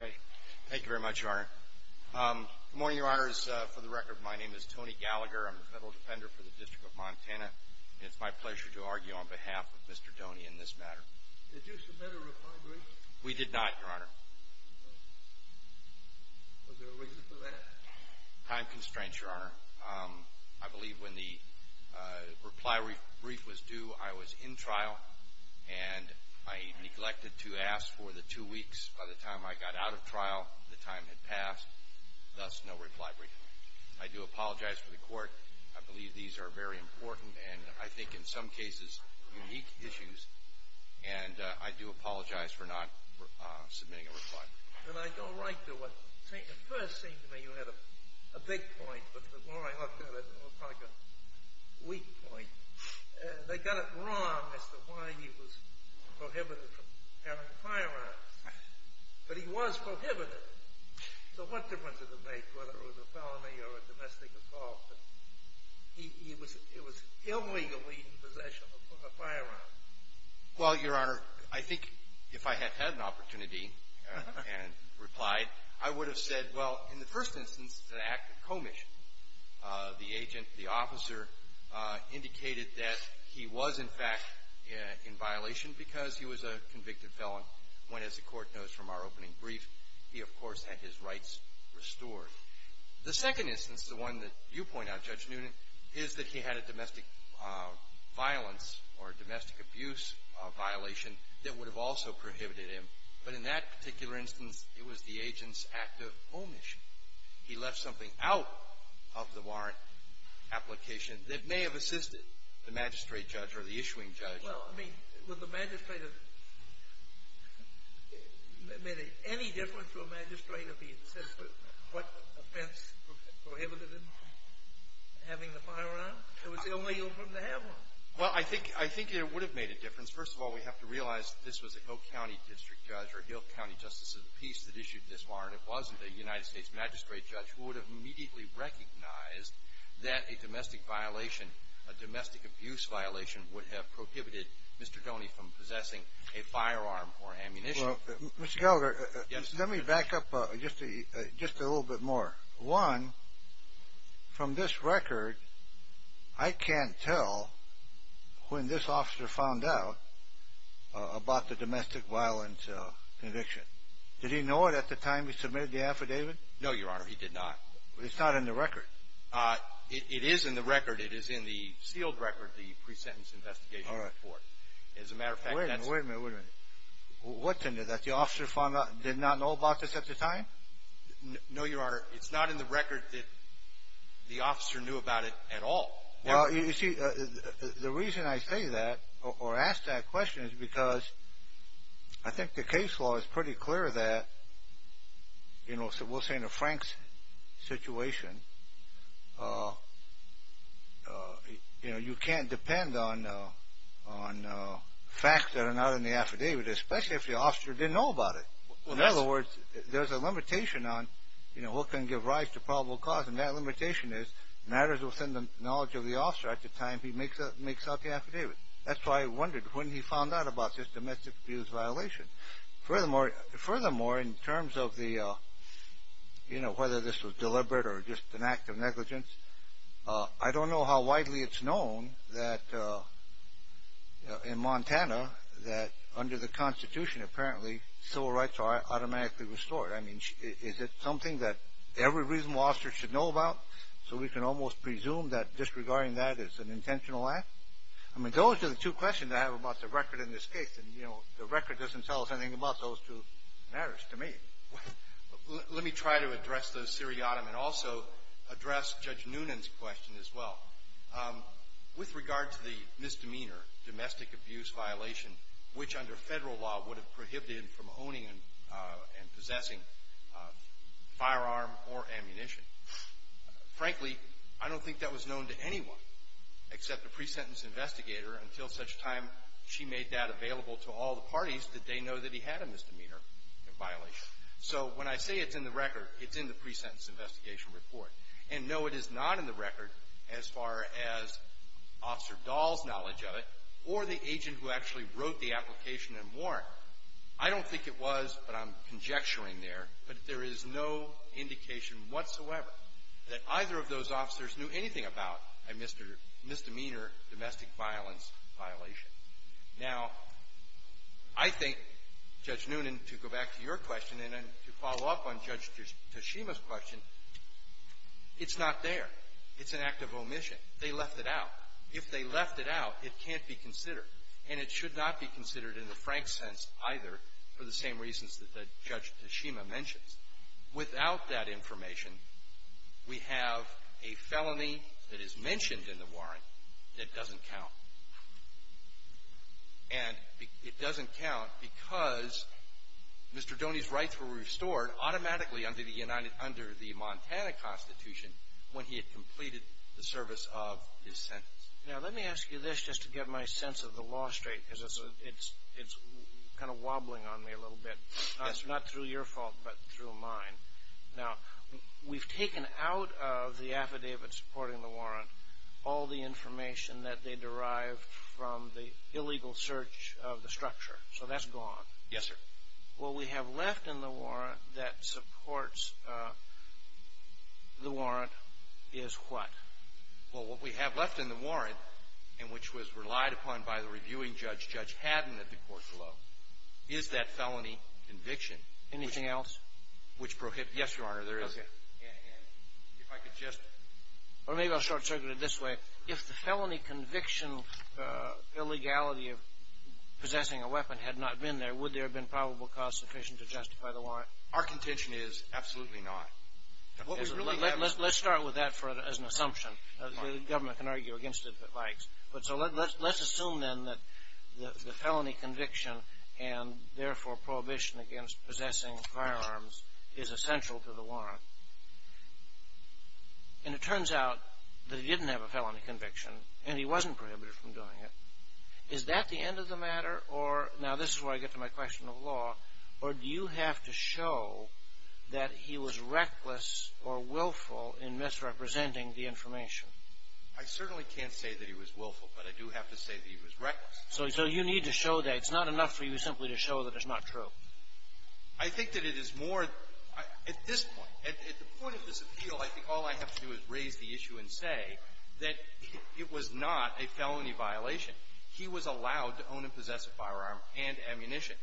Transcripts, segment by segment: Thank you very much, Your Honor. Good morning, Your Honors. For the record, my name is Tony Gallagher. I'm the Federal Defender for the District of Montana, and it's my pleasure to argue on behalf of Mr. Doney in this matter. Did you submit a reply brief? We did not, Your Honor. Was there a reason for that? Time constraints, Your Honor. I believe when the reply brief was due, I was in trial, and I neglected to ask for the two weeks by the time I got out of trial. The time had passed. Thus, no reply brief. I do apologize for the court. I believe these are very important and, I think, in some cases, unique issues, and I do apologize for not submitting a reply brief. Then I go right to it. At first, it seemed to me you had a big point, but the more I looked at it, it was like a weak point. They got it wrong as to why he was prohibited from having firearms, but he was prohibited. So what difference did it make whether it was a felony or a domestic assault? He was illegally in possession of a firearm. Well, Your Honor, I think if I had had an opportunity and replied, I would have said, well, in the first instance, it's an act of commission. The agent, the officer, indicated that he was, in fact, in violation because he was a convicted felon when, as the court knows from our opening brief, he, of course, had his rights restored. The second instance, the one that you point out, Judge Newton, is that he had a domestic violence or a domestic abuse violation that would have also prohibited him, but in that particular instance, it was the agent's act of omission. He left something out of the warrant application that may have assisted the magistrate judge or the issuing judge. Well, I mean, would the magistrate have made any difference to a magistrate if he had said what offense prohibited him having the firearm? It was the only opening to have one. Well, I think it would have made a difference. First of all, we have to realize that this was a Hill County district judge or a Hill County justice of the peace that issued this warrant. It wasn't a United States magistrate judge who would have immediately recognized that a domestic violation, would have prohibited Mr. Doney from possessing a firearm or ammunition. Well, Mr. Gallagher, let me back up just a little bit more. One, from this record, I can't tell when this officer found out about the domestic violence conviction. Did he know it at the time he submitted the affidavit? No, Your Honor, he did not. But it's not in the record. It is in the record. It is in the sealed record, the pre-sentence investigation report. All right. As a matter of fact, that's… Wait a minute, wait a minute, wait a minute. What's in it that the officer found out, did not know about this at the time? No, Your Honor, it's not in the record that the officer knew about it at all. Well, you see, the reason I say that or ask that question is because I think the case law is pretty clear that, you know, as it will say in a Frank's situation, you know, you can't depend on facts that are not in the affidavit, especially if the officer didn't know about it. In other words, there's a limitation on, you know, what can give rise to probable cause, and that limitation is matters within the knowledge of the officer at the time he makes out the affidavit. That's why I wondered when he found out about this domestic abuse violation. Furthermore, in terms of the, you know, whether this was deliberate or just an act of negligence, I don't know how widely it's known that in Montana that under the Constitution, apparently, civil rights are automatically restored. I mean, is it something that every reasonable officer should know about, so we can almost presume that disregarding that is an intentional act? I mean, those are the two questions I have about the record in this case, and, you know, the record doesn't tell us anything about those two matters to me. Let me try to address the seriatim and also address Judge Noonan's question as well. With regard to the misdemeanor domestic abuse violation, which under Federal law would have prohibited from owning and possessing a firearm or ammunition, frankly, I don't think that was known to anyone except a pre-sentence investigator until such time she made that available to all the parties that they know that he had a misdemeanor violation. So when I say it's in the record, it's in the pre-sentence investigation report. And no, it is not in the record as far as Officer Dahl's knowledge of it or the agent who actually wrote the application and warrant. I don't think it was, but I'm conjecturing there, but there is no indication whatsoever that either of those officers knew anything about a misdemeanor domestic violence violation. Now, I think, Judge Noonan, to go back to your question and to follow up on Judge Tashima's question, it's not there. It's an act of omission. They left it out. If they left it out, it can't be considered, and it should not be considered in the frank sense either for the same reasons that Judge Tashima mentions. Without that information, we have a felony that is mentioned in the warrant that doesn't count. And it doesn't count because Mr. Doney's rights were restored automatically under the Montana Constitution when he had completed the service of his sentence. Now, let me ask you this just to get my sense of the law straight because it's kind of wobbling on me a little bit. Not through your fault, but through mine. Now, we've taken out of the affidavit supporting the warrant all the information that they derived from the illegal search of the structure. So that's gone. Yes, sir. What we have left in the warrant that supports the warrant is what? Well, what we have left in the warrant and which was relied upon by the reviewing judge, Judge Haddon at the court below, is that felony conviction. Anything else? Yes, Your Honor, there is. Okay. And if I could just... Or maybe I'll short-circuit it this way. If the felony conviction illegality of possessing a weapon had not been there, would there have been probable cause sufficient to justify the warrant? Our contention is absolutely not. Let's start with that as an assumption. The government can argue against it if it likes. But so let's assume, then, that the felony conviction and, therefore, prohibition against possessing firearms is essential to the warrant. And it turns out that he didn't have a felony conviction and he wasn't prohibited from doing it. Is that the end of the matter? Now, this is where I get to my question of law. Or do you have to show that he was reckless or willful in misrepresenting the information? I certainly can't say that he was willful, but I do have to say that he was reckless. So you need to show that. It's not enough for you simply to show that it's not true. I think that it is more at this point. At the point of this appeal, I think all I have to do is raise the issue and say that it was not a felony violation. He was allowed to own and possess a firearm and ammunition.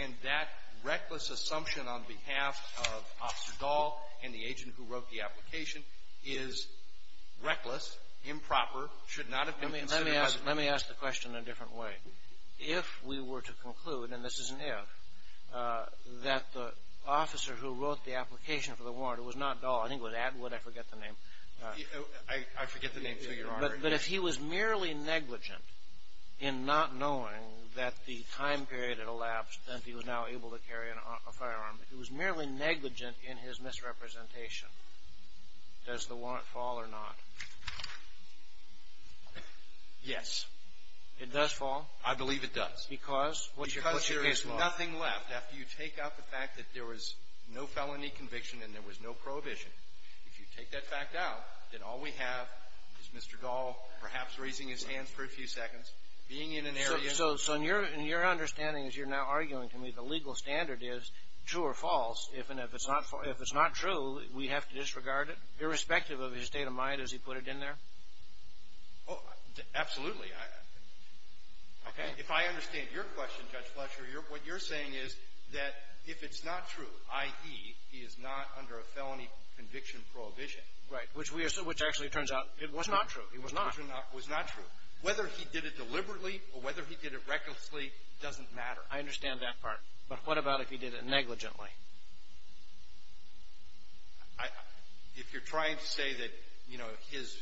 And that reckless assumption on behalf of Officer Dahl and the agent who wrote the application is reckless, improper, should not have been considered a violation. Let me ask the question in a different way. If we were to conclude, and this is an if, that the officer who wrote the application for the warrant was not Dahl. I think it was Atwood. I forget the name. I forget the name, too, Your Honor. But if he was merely negligent in not knowing that the time period had elapsed and he was now able to carry a firearm, if he was merely negligent in his misrepresentation, does the warrant fall or not? Yes. It does fall? I believe it does. Because? Because there is nothing left after you take out the fact that there was no felony conviction and there was no prohibition. If you take that fact out, then all we have is Mr. Dahl perhaps raising his hands for a few seconds, being in an area. So in your understanding as you're now arguing to me, the legal standard is true or false. If it's not true, we have to disregard it, irrespective of his state of mind as he put it in there? Oh, absolutely. Okay. If I understand your question, Judge Fletcher, what you're saying is that if it's not true, i.e., he is not under a felony conviction prohibition. Right. Which we are so – which actually turns out it was not true. It was not. It was not true. Whether he did it deliberately or whether he did it recklessly doesn't matter. I understand that part. But what about if he did it negligently? If you're trying to say that, you know, his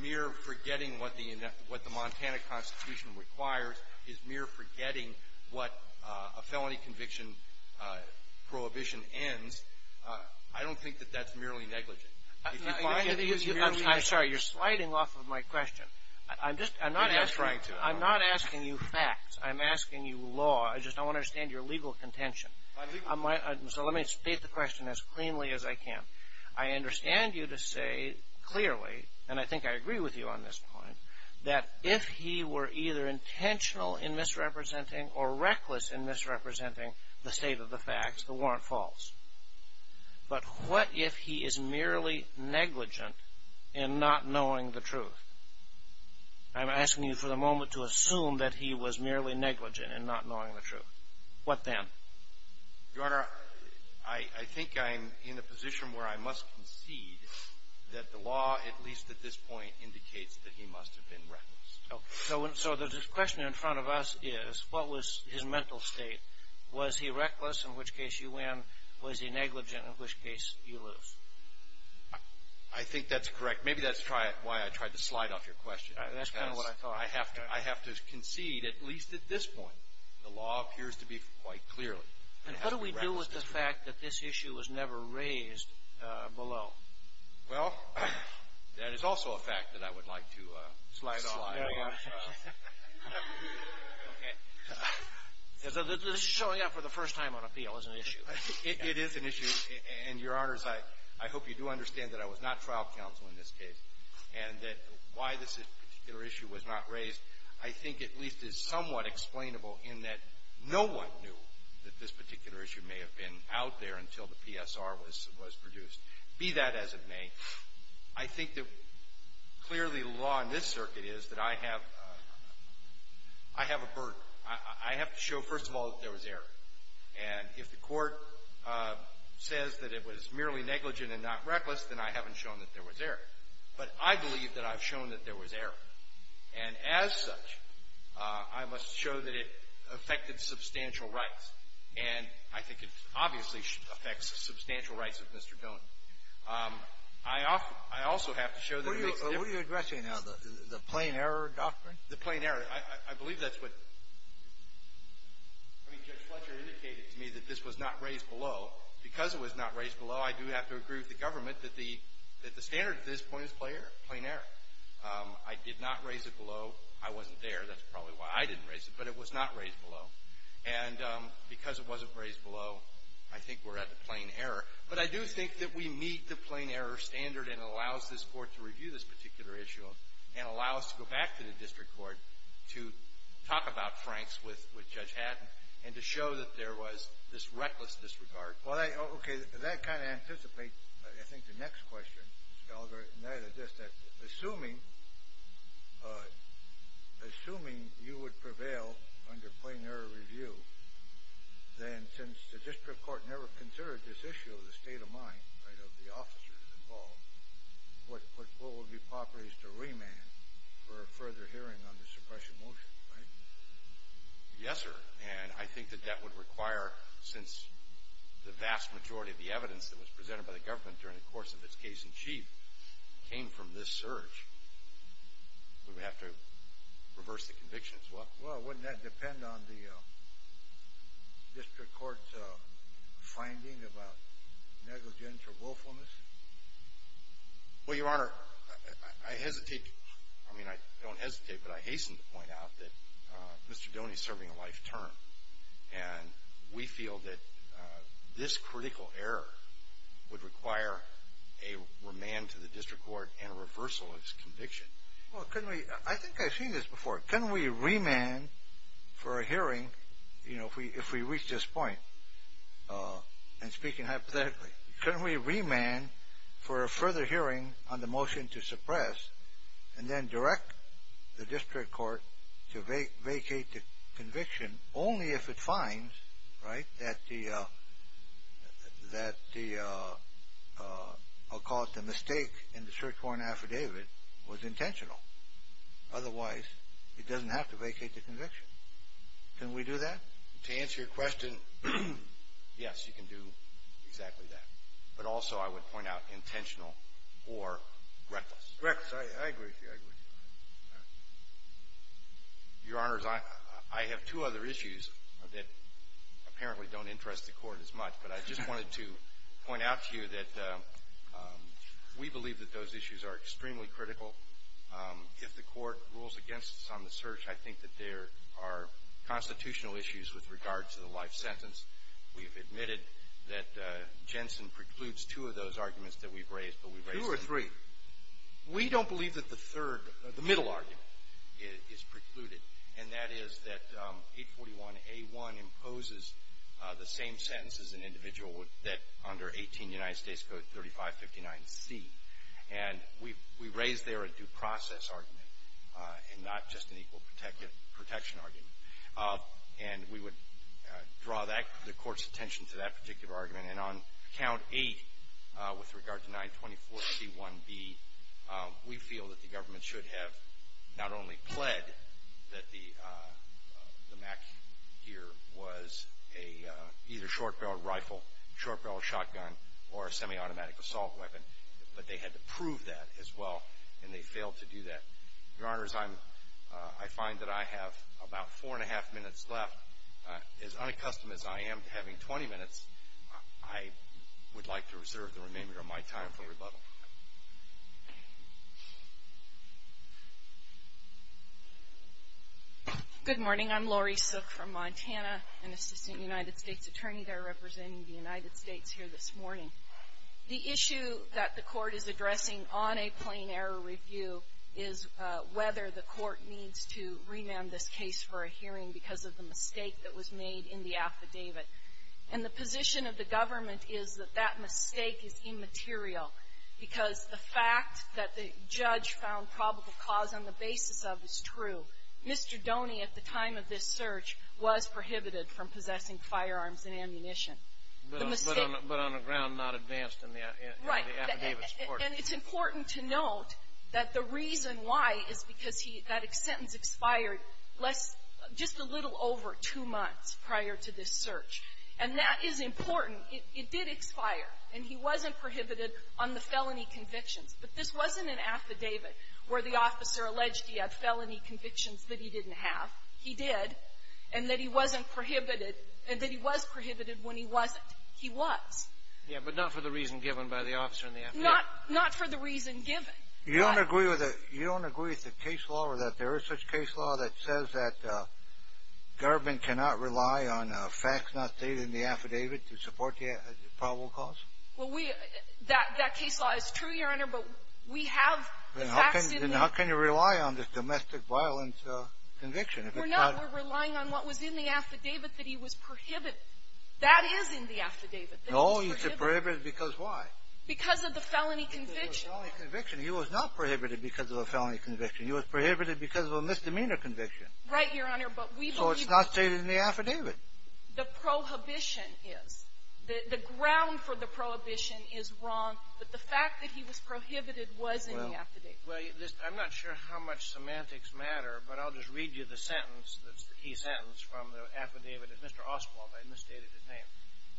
mere forgetting what the – what the Montana Constitution requires is mere forgetting what a felony conviction prohibition ends, I don't think that that's merely negligent. If you find it, it's merely negligent. I'm sorry. You're sliding off of my question. I'm just – I'm not asking – You're not trying to. I'm not asking you facts. I'm asking you law. I just don't understand your legal contention. My legal – So let me state the question as cleanly as I can. I understand you to say clearly, and I think I agree with you on this point, that if he were either intentional in misrepresenting or reckless in misrepresenting the state of the facts, the warrant falls. But what if he is merely negligent in not knowing the truth? I'm asking you for the moment to assume that he was merely negligent in not knowing the truth. What then? Your Honor, I think I'm in a position where I must concede that the law, at least at this point, indicates that he must have been reckless. So the question in front of us is, what was his mental state? Was he reckless, in which case you win? Was he negligent, in which case you lose? I think that's correct. Maybe that's why I tried to slide off your question. That's kind of what I thought. I have to concede, at least at this point. The law appears to be quite clear. And what do we do with the fact that this issue was never raised below? Well, that is also a fact that I would like to slide off. Slide off. Okay. This is showing up for the first time on appeal as an issue. It is an issue. And, Your Honors, I hope you do understand that I was not trial counsel in this case and that why this particular issue was not raised I think at least is somewhat unexplainable in that no one knew that this particular issue may have been out there until the PSR was produced, be that as it may. I think that clearly the law in this circuit is that I have a burden. I have to show, first of all, that there was error. And if the Court says that it was merely negligent and not reckless, then I haven't shown that there was error. But I believe that I've shown that there was error. And as such, I must show that it affected substantial rights. And I think it obviously affects substantial rights of Mr. Donohue. I also have to show that it makes difference. What are you addressing now, the plain error doctrine? The plain error. I believe that's what Judge Fletcher indicated to me that this was not raised below. Because it was not raised below, I do have to agree with the government that the standard at this point is plain error. In fact, I did not raise it below. I wasn't there. That's probably why I didn't raise it. But it was not raised below. And because it wasn't raised below, I think we're at the plain error. But I do think that we meet the plain error standard and it allows this Court to review this particular issue and allow us to go back to the district court to talk about Franks with Judge Haddon and to show that there was this reckless disregard. That kind of anticipates, I think, the next question, Mr. Gallagher. And that is this, that assuming you would prevail under plain error review, then since the district court never considered this issue of the state of mind, right, of the officers involved, what would be proper is to remand for a further hearing under suppression motion, right? Yes, sir. And I think that that would require, since the vast majority of the evidence that was presented by the government during the course of its case in chief came from this search, we would have to reverse the conviction as well. Well, wouldn't that depend on the district court's finding about negligence or willfulness? Well, Your Honor, I hesitate. I mean, I don't hesitate, but I hasten to point out that Mr. Doney is serving a remand to the district court and a reversal of his conviction. Well, couldn't we, I think I've seen this before. Couldn't we remand for a hearing, you know, if we reach this point, and speaking hypothetically, couldn't we remand for a further hearing on the motion to suppress and then direct the district court to vacate the conviction only if it finds, right, that the, I'll call it the mistake in the search warrant affidavit was intentional? Otherwise, it doesn't have to vacate the conviction. Can we do that? To answer your question, yes, you can do exactly that. But also I would point out intentional or reckless. Reckless. I agree with you. Your Honors, I have two other issues that apparently don't interest the court as much, but I just wanted to point out to you that we believe that those issues are extremely critical. If the court rules against us on the search, I think that there are constitutional issues with regard to the life sentence. We have admitted that Jensen precludes two of those arguments that we've raised, but we've raised them. Two or three. We don't believe that the third, the middle argument is precluded, and that is that 841A1 imposes the same sentence as an individual that under 18 United States Code 3559C. And we raised there a due process argument and not just an equal protection argument. And we would draw the court's attention to that particular argument. And on Count 8 with regard to 924C1B, we feel that the government should have not only pled that the MAC here was either a short barrel rifle, short barrel shotgun, or a semi-automatic assault weapon, but they had to prove that as well, and they failed to do that. Your Honors, I find that I have about four and a half minutes left. As unaccustomed as I am to having 20 minutes, I would like to reserve the remainder of my time for rebuttal. Good morning. I'm Laurie Sook from Montana, an assistant United States attorney there representing the United States here this morning. The issue that the court is addressing on a plain error review is whether the in the affidavit. And the position of the government is that that mistake is immaterial because the fact that the judge found probable cause on the basis of is true. Mr. Doney, at the time of this search, was prohibited from possessing firearms and ammunition. The mistake — But on a ground not advanced in the affidavit. Right. And it's important to note that the reason why is because he — that sentence expired less — just a little over two months prior to this search. And that is important. It did expire, and he wasn't prohibited on the felony convictions. But this wasn't an affidavit where the officer alleged he had felony convictions that he didn't have. He did, and that he wasn't prohibited — and that he was prohibited when he wasn't. He was. Yeah, but not for the reason given by the officer in the affidavit. Not for the reason given. You don't agree with the — you don't agree with the case law or that there is such case law that says that government cannot rely on facts not stated in the affidavit to support the probable cause? Well, we — that case law is true, Your Honor, but we have the facts in the — Then how can you rely on this domestic violence conviction if it's not — We're not. We're relying on what was in the affidavit that he was prohibited. That is in the affidavit that he was prohibited. No, he's prohibited because why? Because of the felony conviction. Because of the felony conviction. He was not prohibited because of a felony conviction. He was prohibited because of a misdemeanor conviction. Right, Your Honor, but we believe — So it's not stated in the affidavit. The prohibition is. The ground for the prohibition is wrong, but the fact that he was prohibited was in the affidavit. Well, I'm not sure how much semantics matter, but I'll just read you the sentence, the key sentence from the affidavit of Mr. Oswald. I misstated his name.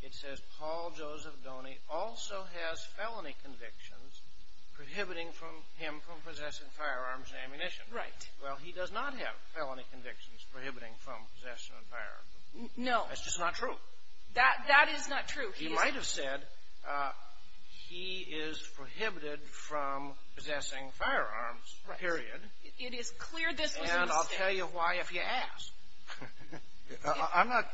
It says Paul Joseph Doney also has felony convictions prohibiting him from possessing firearms and ammunition. Right. Well, he does not have felony convictions prohibiting from possession of firearms. No. That's just not true. That is not true. He might have said he is prohibited from possessing firearms, period. It is clear this was a mistake. And I'll tell you why if you ask. I'm not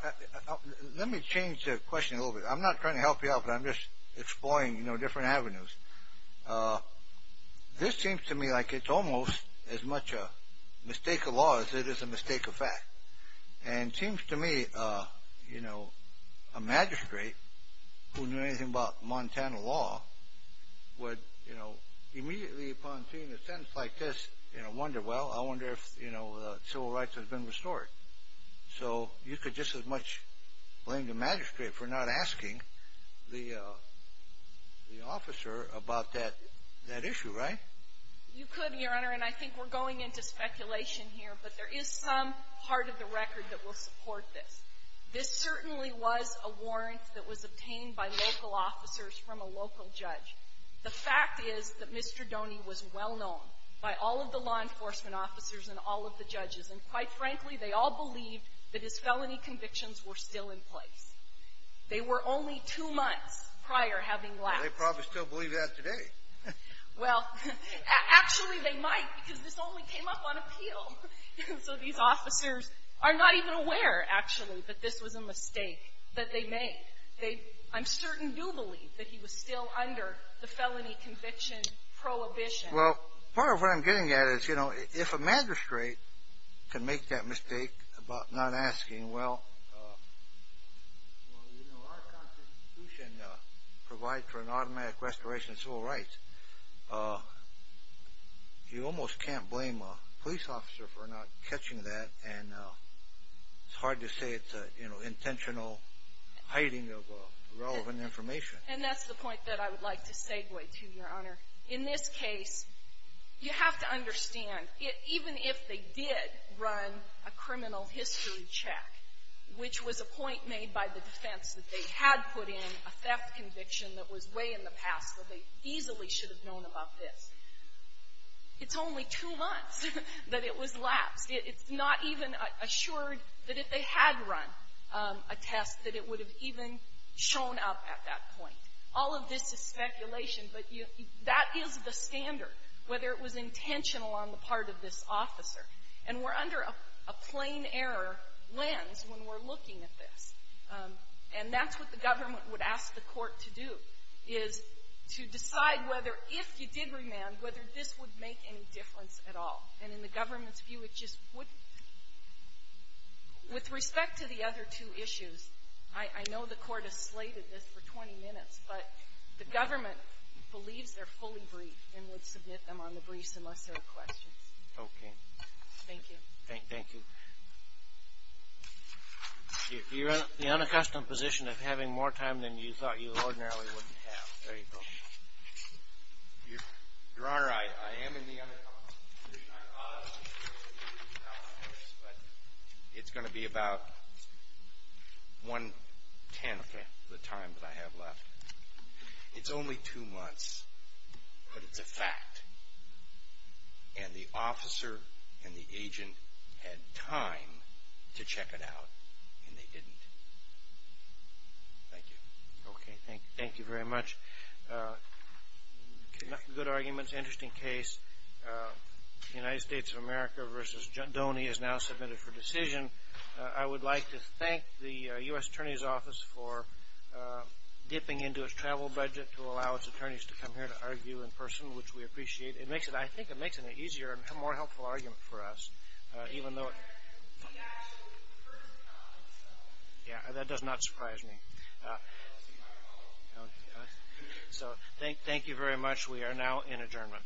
— let me change the question a little bit. I'm not trying to help you out, but I'm just exploring, you know, different avenues. This seems to me like it's almost as much a mistake of law as it is a mistake of fact. And it seems to me, you know, a magistrate who knew anything about Montana law would, you know, immediately upon seeing a sentence like this, you know, wonder, well, I wonder if, you know, civil rights has been restored. So you could just as much blame the magistrate for not asking the officer about that issue, right? You could, Your Honor, and I think we're going into speculation here, but there is some part of the record that will support this. This certainly was a warrant that was obtained by local officers from a local judge. The fact is that Mr. Doney was well-known by all of the law enforcement officers and all of the judges, and quite frankly, they all believed that his felony convictions were still in place. They were only two months prior, having left. They probably still believe that today. Well, actually, they might, because this only came up on appeal. So these officers are not even aware, actually, that this was a mistake that they made. I'm certain they do believe that he was still under the felony conviction prohibition. Well, part of what I'm getting at is, you know, if a magistrate can make that mistake about not asking, well, you know, our Constitution provides for an automatic restoration of civil rights. You almost can't blame a police officer for not catching that, and it's hard to say it's an intentional hiding of relevant information. And that's the point that I would like to segue to, Your Honor. In this case, you have to understand, even if they did run a criminal history check, which was a point made by the defense that they had put in a theft conviction that was way in the past where they easily should have known about this, it's only two months that it was lapsed. It's not even assured that if they had run a test that it would have even shown up at that point. All of this is speculation, but that is the standard, whether it was intentional on the part of this officer. And we're under a plain error lens when we're looking at this. And that's what the government would ask the Court to do, is to decide whether, if you did remand, whether this would make any difference at all. And in the government's view, it just wouldn't. With respect to the other two issues, I know the Court has slated this for 20 minutes, but the government believes they're fully briefed and would submit them on the briefs unless there are questions. Okay. Thank you. Thank you. You're in the unaccustomed position of having more time than you thought you ordinarily wouldn't have. There you go. Your Honor, I am in the unaccustomed position. I thought I was in the unaccustomed position, but it's going to be about one-tenth of the time that I have left. It's only two months, but it's a fact. And the officer and the agent had time to check it out, and they didn't. Thank you. Okay. Thank you very much. Good arguments. Interesting case. United States of America v. Dhoni is now submitted for decision. I would like to thank the U.S. Attorney's Office for dipping into its travel budget to allow its attorneys to come here to argue in person, which we appreciate. I think it makes it an easier and more helpful argument for us. Thank you very much. We are now in adjournment.